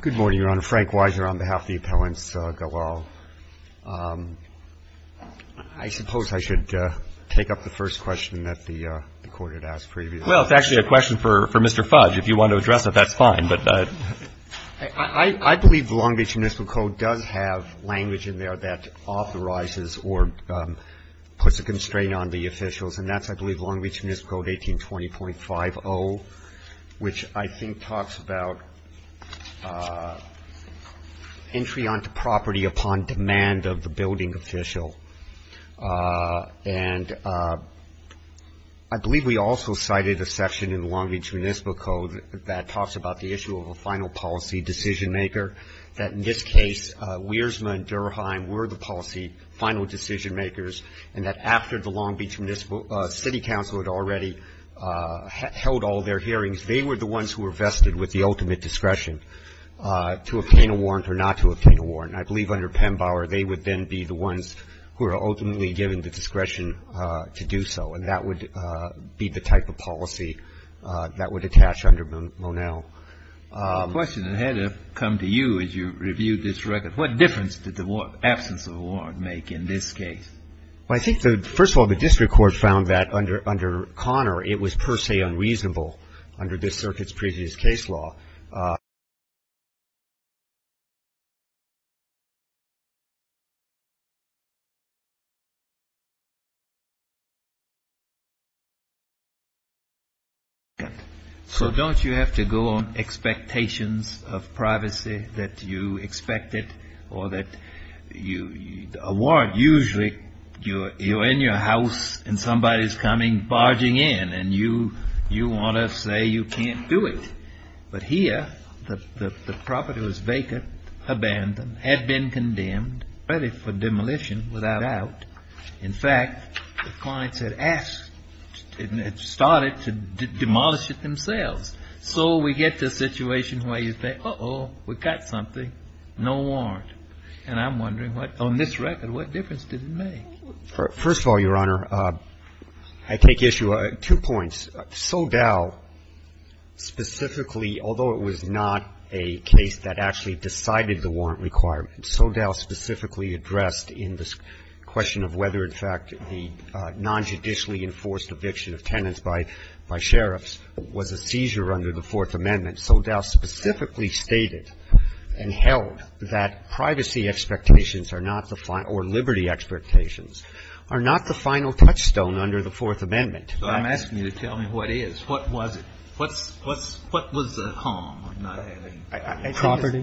Good morning, Your Honor. Frank Weiser on behalf of the Appellants Galal. I suppose I should take up the first question that the Court had asked previously. Well, it's actually a question for Mr. Fudge. If you want to address it, that's fine. I believe the Long Beach Municipal Code does have language in there that authorizes or puts a constraint on the officials, and that's, I believe, Long Beach Municipal Code 1820.50, which I think talks about entry onto property upon demand of the building official. And I believe we also cited a section in the Long Beach Municipal Code that talks about the issue of a final policy decision maker, that in this case, Wiersma and Durheim were the policy final decision makers, and that after the Long Beach City Council had already held all their hearings, they were the ones who were vested with the ultimate discretion to obtain a warrant or not to obtain a warrant. I believe under Pembauer, they would then be the ones who are ultimately given the discretion to do so, and that would be the type of policy that would attach under Monell. The question that had to come to you as you reviewed this record, what difference did the absence of a warrant make in this case? Well, I think, first of all, the district court found that under Connor, it was per se unreasonable under this circuit's previous case law. So don't you have to go on expectations of privacy that you expected, or that you, a warrant usually, you're in your house and somebody's coming barging in, and you want to say you can't do it? But here, the property was vacant, abandoned, had been condemned, ready for demolition without a doubt. In fact, the clients had asked, had started to demolish it themselves. So we get to a situation where you say, uh-oh, we got something, no warrant. And I'm wondering what, on this record, what difference did it make? First of all, Your Honor, I take issue, two points. So Dow specifically, although it was not a case that actually decided the warrant requirement, so Dow specifically addressed in this question of whether, in fact, the nonjudicially enforced eviction of tenants by sheriffs was a seizure under the Fourth Amendment, I'm asking you to tell me what it is. What was it? What was the harm? I'm not having any question. Roberts.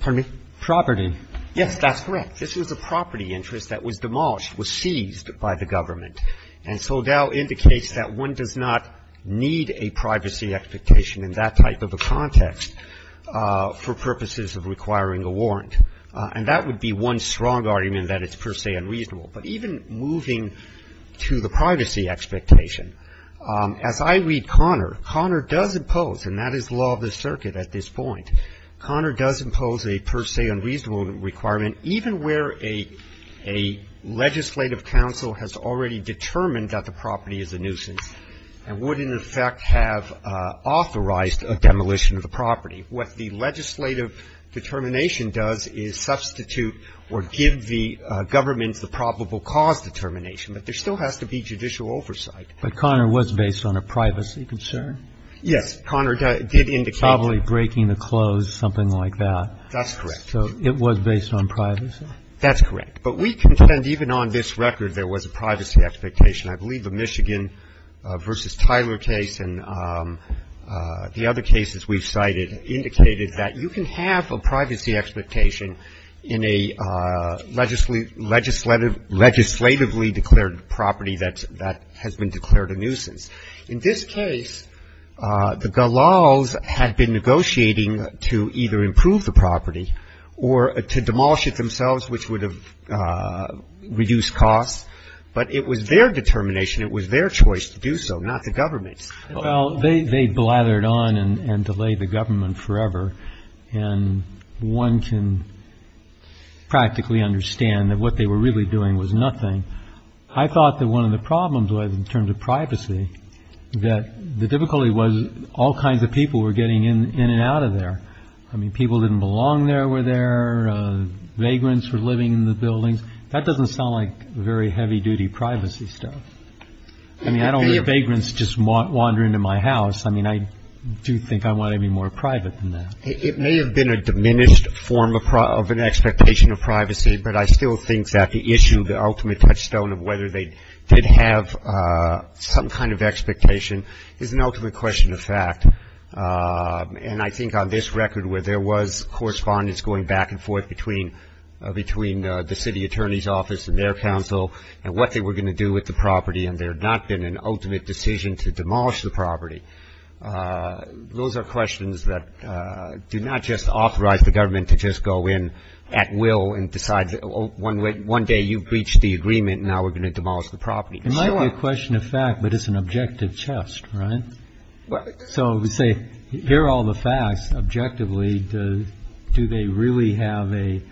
Pardon me. Property. Yes. That's correct. This was a property interest that was demolished, was seized by the Government. And so Dow indicates that one does not need a privacy expectation in that type of a context for purposes of requiring a warrant. And that would be one strong argument that it's per se unreasonable. But even moving to the privacy expectation, as I read Conner, Conner does impose, and that is the law of the circuit at this point, Conner does impose a per se unreasonable requirement, even where a legislative council has already determined that the property is a nuisance and would in effect have authorized a demolition of the property. What the legislative determination does is substitute or give the government the probable cause determination. But there still has to be judicial oversight. But Conner was based on a privacy concern? Yes. Conner did indicate that. Probably breaking the close, something like that. That's correct. So it was based on privacy? That's correct. But we contend even on this record there was a privacy expectation. I believe the Michigan v. Tyler case and the other cases we've cited indicated that you can have a privacy expectation in a legislatively declared property that has been declared a nuisance. In this case, the Galals had been negotiating to either improve the property or to demolish it themselves, which would have reduced costs. But it was their determination, it was their choice to do so, not the government's. Well, they blathered on and delayed the government forever. And one can practically understand that what they were really doing was nothing. I thought that one of the problems was in terms of privacy, that the difficulty was all kinds of people were getting in and out of there. I mean, people didn't belong there, were there. Vagrants were living in the buildings. That doesn't sound like very heavy-duty privacy stuff. I mean, I don't think vagrants just wander into my house. I mean, I do think I want to be more private than that. It may have been a diminished form of an expectation of privacy, but I still think that the issue, the ultimate touchstone of whether they did have some kind of expectation, is an ultimate question of fact. And I think on this record where there was correspondence going back and forth between the city attorney's office and their counsel and what they were going to do with the property and there had not been an ultimate decision to demolish the property, those are questions that do not just authorize the government to just go in at will and decide that one day you've reached the agreement and now we're going to demolish the property. It might be a question of fact, but it's an objective test, right? So, say, here are all the facts. Objectively, do they really have a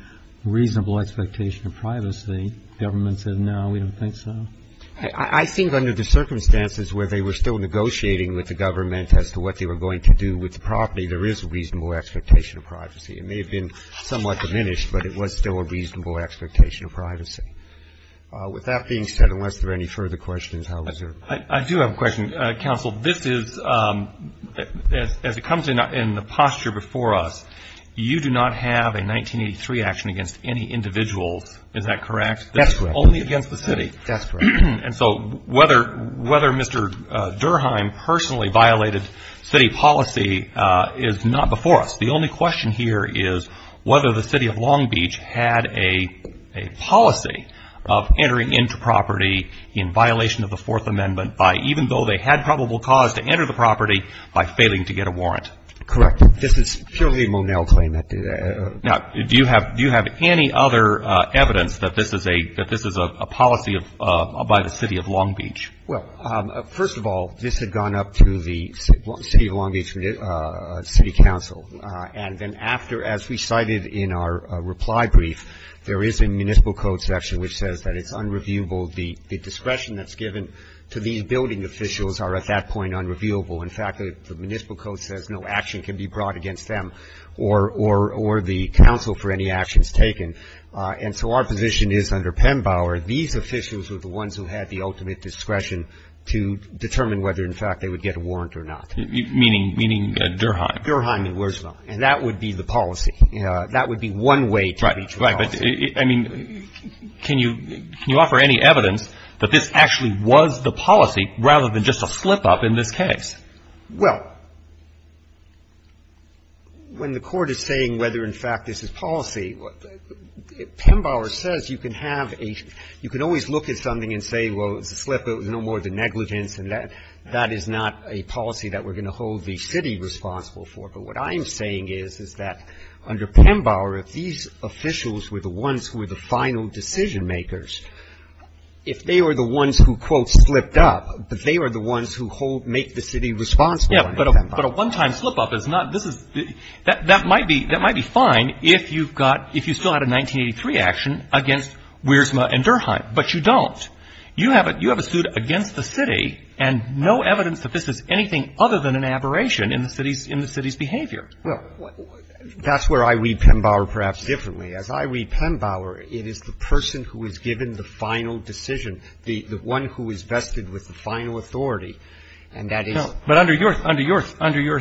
reasonable expectation of privacy? The government said, no, we don't think so. I think under the circumstances where they were still negotiating with the government as to what they were going to do with the property, there is a reasonable expectation of privacy. It may have been somewhat diminished, but it was still a reasonable expectation of privacy. With that being said, unless there are any further questions, I'll reserve it. I do have a question, counsel. This is, as it comes in the posture before us, you do not have a 1983 action against any individuals. Is that correct? That's correct. Only against the city. That's correct. And so whether Mr. Durheim personally violated city policy is not before us. The only question here is whether the city of Long Beach had a policy of entering into property in violation of the Fourth Amendment by, even though they had probable cause to enter the property, by failing to get a warrant. Correct. This is purely a Monell claim. Now, do you have any other evidence that this is a policy by the city of Long Beach? Well, first of all, this had gone up to the city of Long Beach city council. And then after, as we cited in our reply brief, there is a municipal code section which says that it's unreviewable. The discretion that's given to these building officials are, at that point, unreviewable. In fact, the municipal code says no action can be brought against them or the council for any actions taken. And so our position is, under Pembauer, these officials were the ones who had the ultimate discretion to determine whether, in fact, they would get a warrant or not. Meaning Durheim? Durheim and Wurzla. And that would be the policy. That would be one way to reach Wurzla. Right. But, I mean, can you offer any evidence that this actually was the policy rather than just a slip-up in this case? Well, when the Court is saying whether, in fact, this is policy, Pembauer says you can have a you can always look at something and say, well, it's a slip-up. It was no more than negligence. And that is not a policy that we're going to hold the city responsible for. But what I'm saying is, is that under Pembauer, if these officials were the ones who were the final decision-makers, if they were the ones who, quote, slipped up, if they were the ones who hold make the city responsible under Pembauer. But a one-time slip-up is not this is that might be that might be fine if you've got if you still had a 1983 action against Wurzla and Durheim. But you don't. You have a you have a suit against the city, and no evidence that this is anything other than an aberration in the city's in the city's behavior. Well, that's where I read Pembauer perhaps differently. As I read Pembauer, it is the person who is given the final decision, the one who is vested with the final authority. And that is. But under your under your under your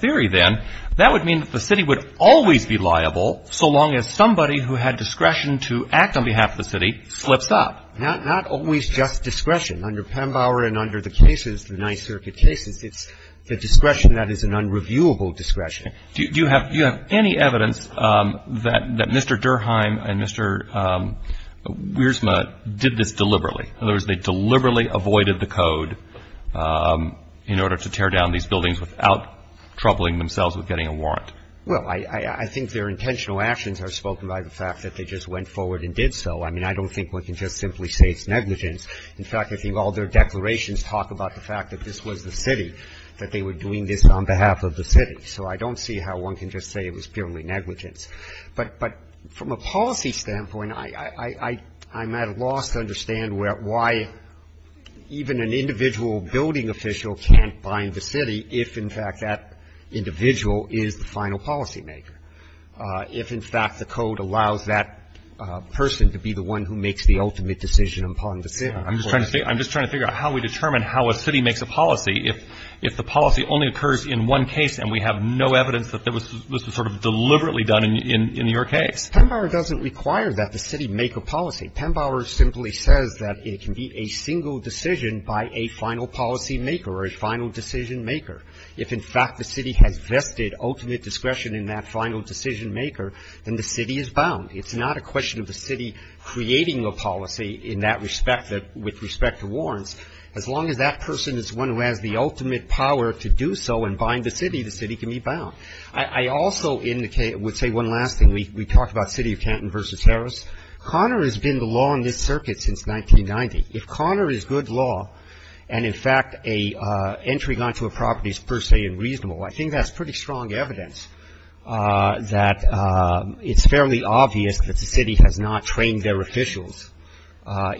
theory, then, that would mean that the city would always be liable so long as somebody who had discretion to act on behalf of the city slips up. Not always just discretion. Under Pembauer and under the cases, the Ninth Circuit cases, it's the discretion that is an unreviewable discretion. Do you have do you have any evidence that that Mr. Durheim and Mr. Wurzla did this deliberately? In other words, they deliberately avoided the code in order to tear down these buildings without troubling themselves with getting a warrant? Well, I think their intentional actions are spoken by the fact that they just went forward and did so. I mean, I don't think one can just simply say it's negligence. In fact, I think all their declarations talk about the fact that this was the city, that they were doing this on behalf of the city. So I don't see how one can just say it was purely negligence. But from a policy standpoint, I'm at a loss to understand why even an individual building official can't bind the city if, in fact, that individual is the final policymaker, if, in fact, the code allows that person to be the one who makes the ultimate decision upon the city. I'm just trying to figure out how we determine how a city makes a policy if the policy only occurs in one case and we have no evidence that this was sort of deliberately done in your case. Pembauer doesn't require that the city make a policy. Pembauer simply says that it can be a single decision by a final policymaker or a final decisionmaker. If, in fact, the city has vested ultimate discretion in that final decisionmaker, then the city is bound. It's not a question of the city creating a policy in that respect that with respect to warrants. As long as that person is the one who has the ultimate power to do so and bind the city, the city can be bound. I also would say one last thing. We talked about City of Canton v. Harris. Connor has been the law in this circuit since 1990. If Connor is good law and, in fact, an entry onto a property is per se unreasonable, I think that's pretty strong evidence that it's fairly obvious that the city has not trained their officials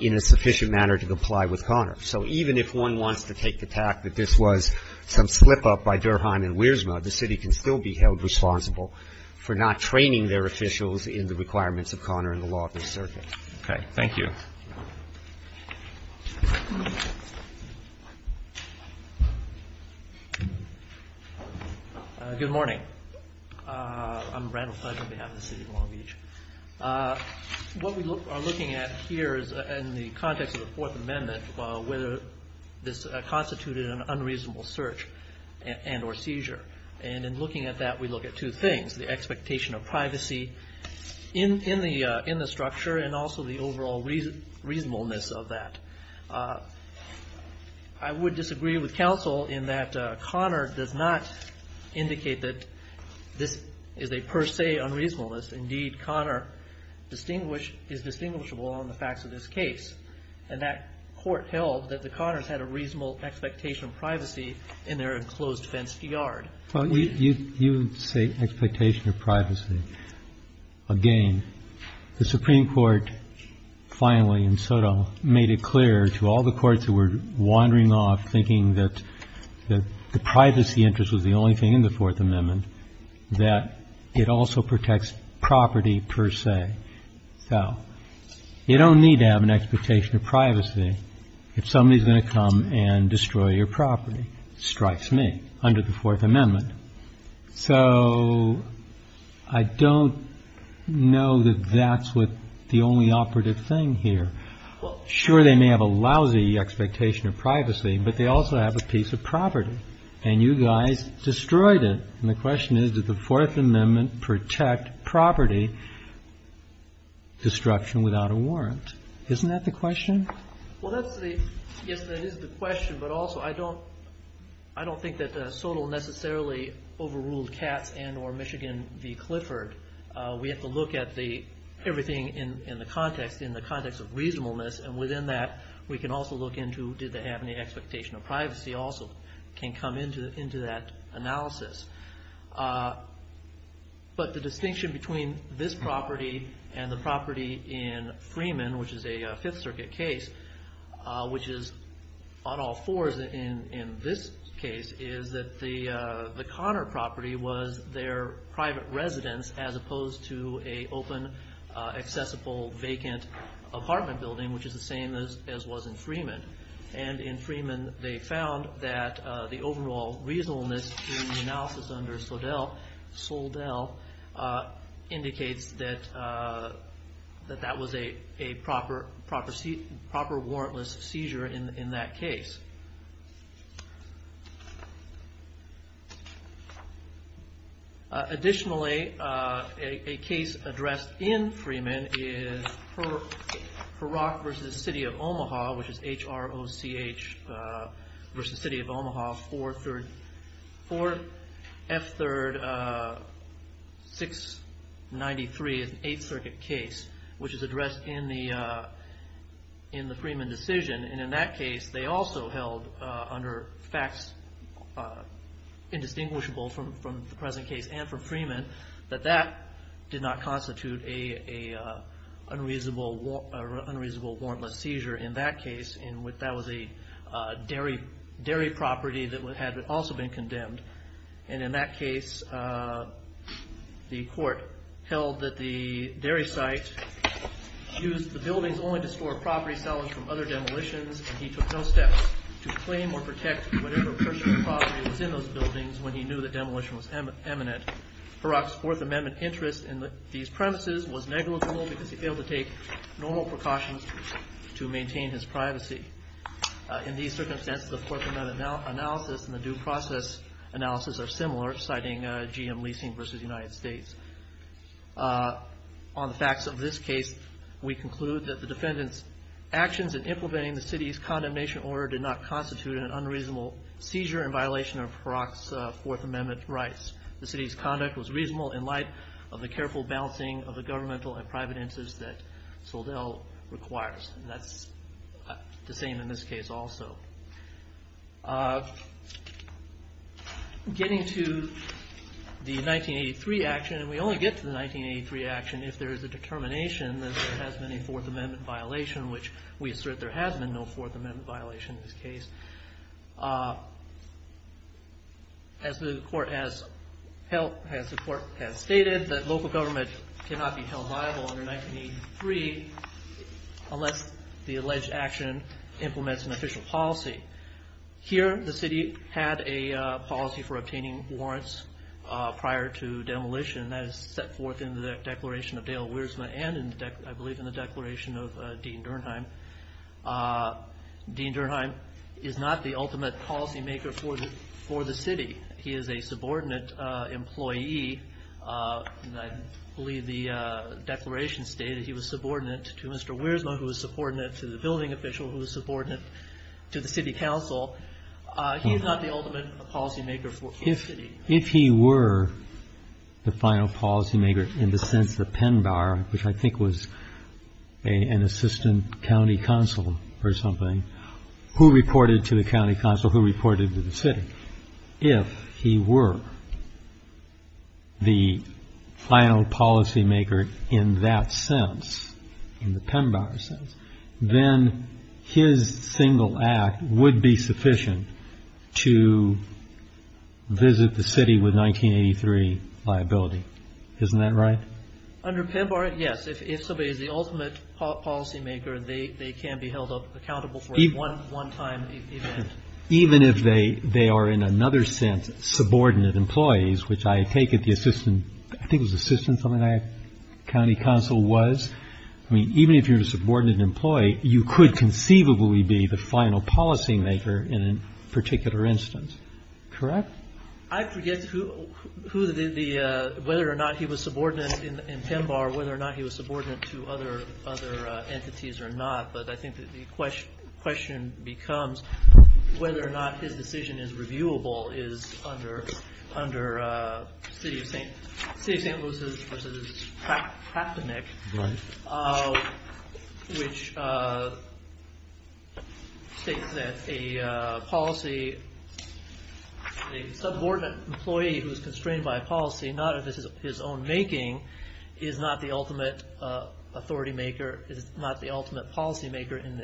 in a sufficient manner to comply with Connor. So even if one wants to take the tact that this was some slip-up by Durheim and Wiersma, the city can still be held responsible for not training their officials in the requirements of Connor in the law of this circuit. Okay. Thank you. Good morning. I'm Randall Fudge on behalf of the city of Long Beach. What we are looking at here is, in the context of the Fourth Amendment, whether this constituted an unreasonable search and or seizure. And in looking at that, we look at two things. The expectation of privacy in the structure and also the overall reasonableness of that. I would disagree with counsel in that Connor does not indicate that this is a per se unreasonableness. Indeed, Connor is distinguishable on the facts of this case. And that court held that the Connors had a reasonable expectation of privacy in their enclosed fenced yard. Well, you say expectation of privacy. Again, the Supreme Court finally in Soto made it clear to all the courts who were wandering off thinking that the privacy interest was the only thing in the Fourth Amendment, that it also protects property per se. So you don't need to have an expectation of privacy if somebody is going to come and destroy your property. Strikes me under the Fourth Amendment. So I don't know that that's what the only operative thing here. Sure, they may have a lousy expectation of privacy, but they also have a piece of property. And you guys destroyed it. And the question is, did the Fourth Amendment protect property destruction without a warrant? Isn't that the question? Well, I guess that is the question, but also I don't think that Soto necessarily overruled Katz and or Michigan v. Clifford. We have to look at everything in the context, in the context of reasonableness, and within that we can also look into did they have any expectation of privacy also can come into that analysis. But the distinction between this property and the property in Freeman, which is a Fifth Circuit case, which is on all fours in this case, is that the Connor property was their private residence, as opposed to a open, accessible, vacant apartment building, which is the same as was in Freeman. And in Freeman they found that the overall reasonableness in the analysis under Soldell indicates that that was a proper warrantless seizure in that case. Additionally, a case addressed in Freeman is Herock v. City of Omaha, which is H-R-O-C-H v. City of Omaha, Fourth F-Third 693, an Eighth Circuit case, which is addressed in the Freeman decision. And in that case they also held, under facts indistinguishable from the present case and from Freeman, that that did not constitute an unreasonable warrantless seizure in that case, and that was a dairy property that had also been condemned. And in that case the court held that the dairy site used the buildings only to store property selling from other demolitions, and he took no steps to claim or protect whatever personal property was in those buildings when he knew the demolition was imminent. Herock's Fourth Amendment interest in these premises was negligible because he failed to take normal precautions to maintain his privacy. In these circumstances, the Fourth Amendment analysis and the due process analysis are similar, citing GM Leasing v. United States. On the facts of this case, we conclude that the defendant's actions in implementing the city's condemnation order did not constitute an unreasonable seizure in violation of Herock's Fourth Amendment rights. The city's conduct was reasonable in light of the careful balancing of the governmental and private interests that Soldell requires. And that's the same in this case also. Getting to the 1983 action, and we only get to the 1983 action if there is a determination that there has been a Fourth Amendment violation, which we assert there has been no Fourth Amendment violation in this case. As the court has stated, the local government cannot be held liable under 1983 unless the alleged action implements an official policy. Here, the city had a policy for obtaining warrants prior to demolition that is set forth in the Declaration of Dale Wiersma and, I believe, in the Declaration of Dean Durnheim. Dean Durnheim is not the ultimate policymaker for the city. He is a subordinate employee. I believe the Declaration stated he was subordinate to Mr. Wiersma, who was subordinate to the building official, who was subordinate to the city council. He is not the ultimate policymaker for the city. If he were the final policymaker in the sense that Penbower, which I think was an assistant county council or something, who reported to the county council, who reported to the city, if he were the final policymaker in that sense, in the Penbower sense, then his single act would be sufficient to visit the city with 1983 liability. Isn't that right? Under Penbower, yes. If somebody is the ultimate policymaker, they can be held accountable for a one-time event. Even if they are, in another sense, subordinate employees, which I take it the assistant, county council was, even if you're a subordinate employee, you could conceivably be the final policymaker in a particular instance. Correct? I forget whether or not he was subordinate in Penbower, whether or not he was subordinate to other entities or not, but I think the question becomes whether or not his decision is reviewable, is under City of St. Louis's practice, which states that a policy, a subordinate employee who is constrained by policy, not of his own making, is not the ultimate policymaker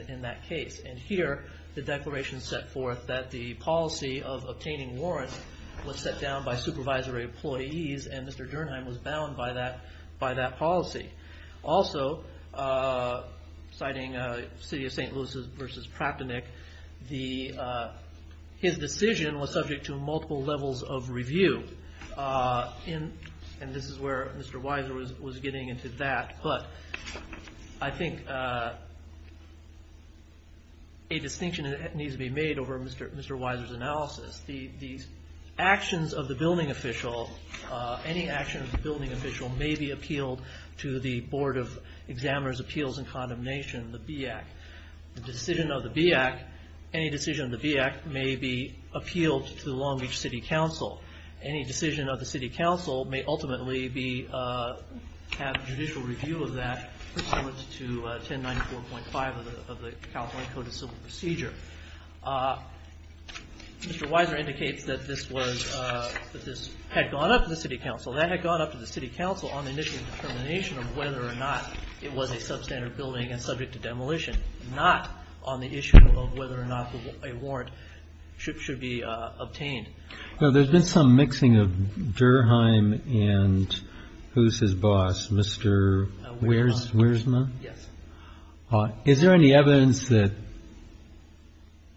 in that case. And here, the declaration set forth that the policy of obtaining warrants was set down by supervisory employees, and Mr. Durnheim was bound by that policy. Also, citing City of St. Louis's versus Praptonick, his decision was subject to multiple levels of review. And this is where Mr. Weiser was getting into that. But I think a distinction needs to be made over Mr. Weiser's analysis. The actions of the building official, any action of the building official, may be appealed to the Board of Examiner's Appeals and Condemnation, the BAC. The decision of the BAC, any decision of the BAC may be appealed to the Long Beach City Council. Any decision of the City Council may ultimately have judicial review of that pursuant to 1094.5 of the California Code of Civil Procedure. Mr. Weiser indicates that this had gone up to the City Council. That had gone up to the City Council on the initial determination of whether or not it was a substandard building and subject to demolition, not on the issue of whether or not a warrant should be obtained. Now, there's been some mixing of Durnheim and who's his boss, Mr. Wiersma? Yes. Is there any evidence that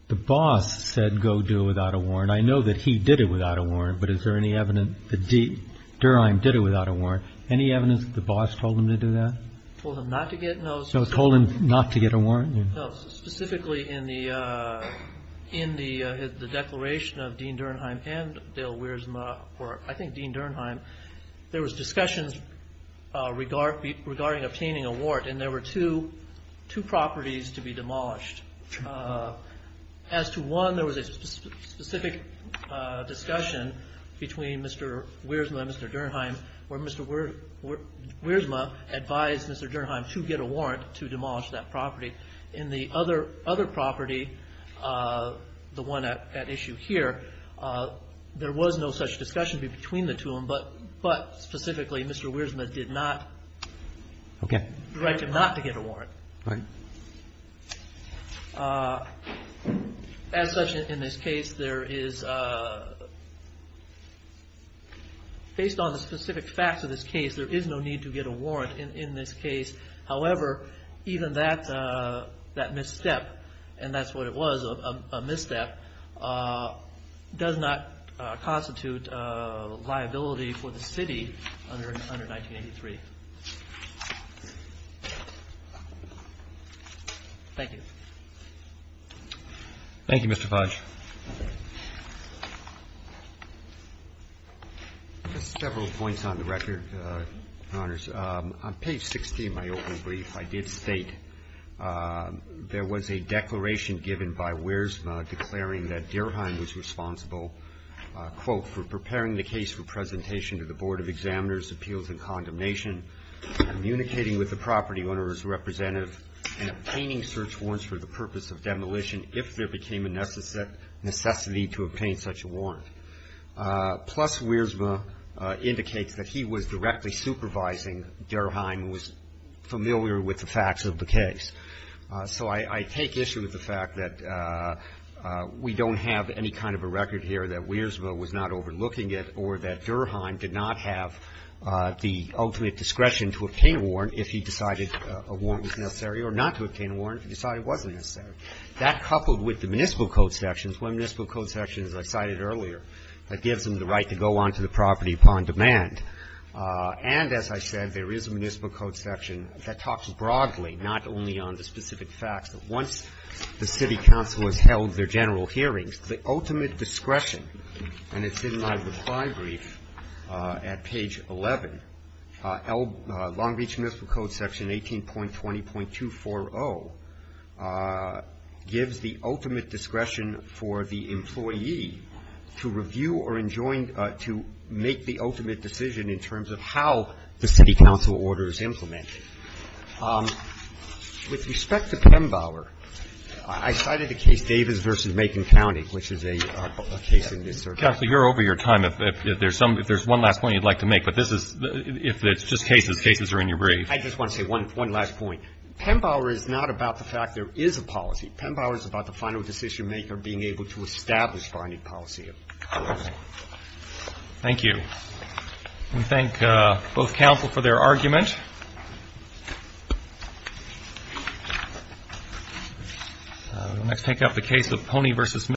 the boss said go do it without a warrant? I know that he did it without a warrant, but is there any evidence that Durnheim did it without a warrant? Or any evidence that the boss told him to do that? Told him not to get a warrant? No. Specifically in the declaration of Dean Durnheim and Dale Wiersma, or I think Dean Durnheim, there was discussions regarding obtaining a warrant, and there were two properties to be demolished. As to one, there was a specific discussion between Mr. Wiersma and Mr. Durnheim where Mr. Wiersma advised Mr. Durnheim to get a warrant to demolish that property. In the other property, the one at issue here, there was no such discussion between the two of them, but specifically Mr. Wiersma did not direct him not to get a warrant. Right. As such, in this case, there is, based on the specific facts of this case, there is no need to get a warrant in this case. However, even that misstep, and that's what it was, a misstep, does not constitute liability for the city under 1983. Thank you. Thank you, Mr. Fudge. Just several points on the record, Your Honors. On page 16 of my open brief, I did state there was a declaration given by Wiersma declaring that Durnheim was responsible, quote, for preparing the case for presentation to the Board of Examiners, Appeals, and Condemnation, communicating with the property owner's representative, and obtaining search warrants for the purpose of demolition if there became a necessity to obtain such a warrant. Plus, Wiersma indicates that he was directly supervising Durnheim and was familiar with the facts of the case. So I take issue with the fact that we don't have any kind of a record here that Wiersma was not overlooking it or that Durnheim did not have the ultimate discretion to obtain a warrant if he decided a warrant was necessary or not to obtain a warrant if he decided it wasn't necessary. That, coupled with the municipal code sections, one of the municipal code sections I cited earlier, that gives him the right to go onto the property upon demand. And, as I said, there is a municipal code section that talks broadly, not only on the specific facts, that once the city council has held their general hearings, the ultimate discretion, and it's in my reply brief at page 11, Long Beach Municipal Code section 18.20.240 gives the ultimate discretion for the employee to review or enjoin to make the ultimate decision in terms of how the city council order is implemented. With respect to Pembauer, I cited the case Davis v. Macon County, which is a case in this circuit. Roberts. Counsel, you're over your time. If there's one last point you'd like to make, but this is the – if it's just cases, cases are in your brief. I just want to say one last point. Pembauer is not about the fact there is a policy. Pembauer is about the final decision maker being able to establish binding policy. Thank you. We thank both counsel for their argument. We'll next take up the case of Pony v. Miller.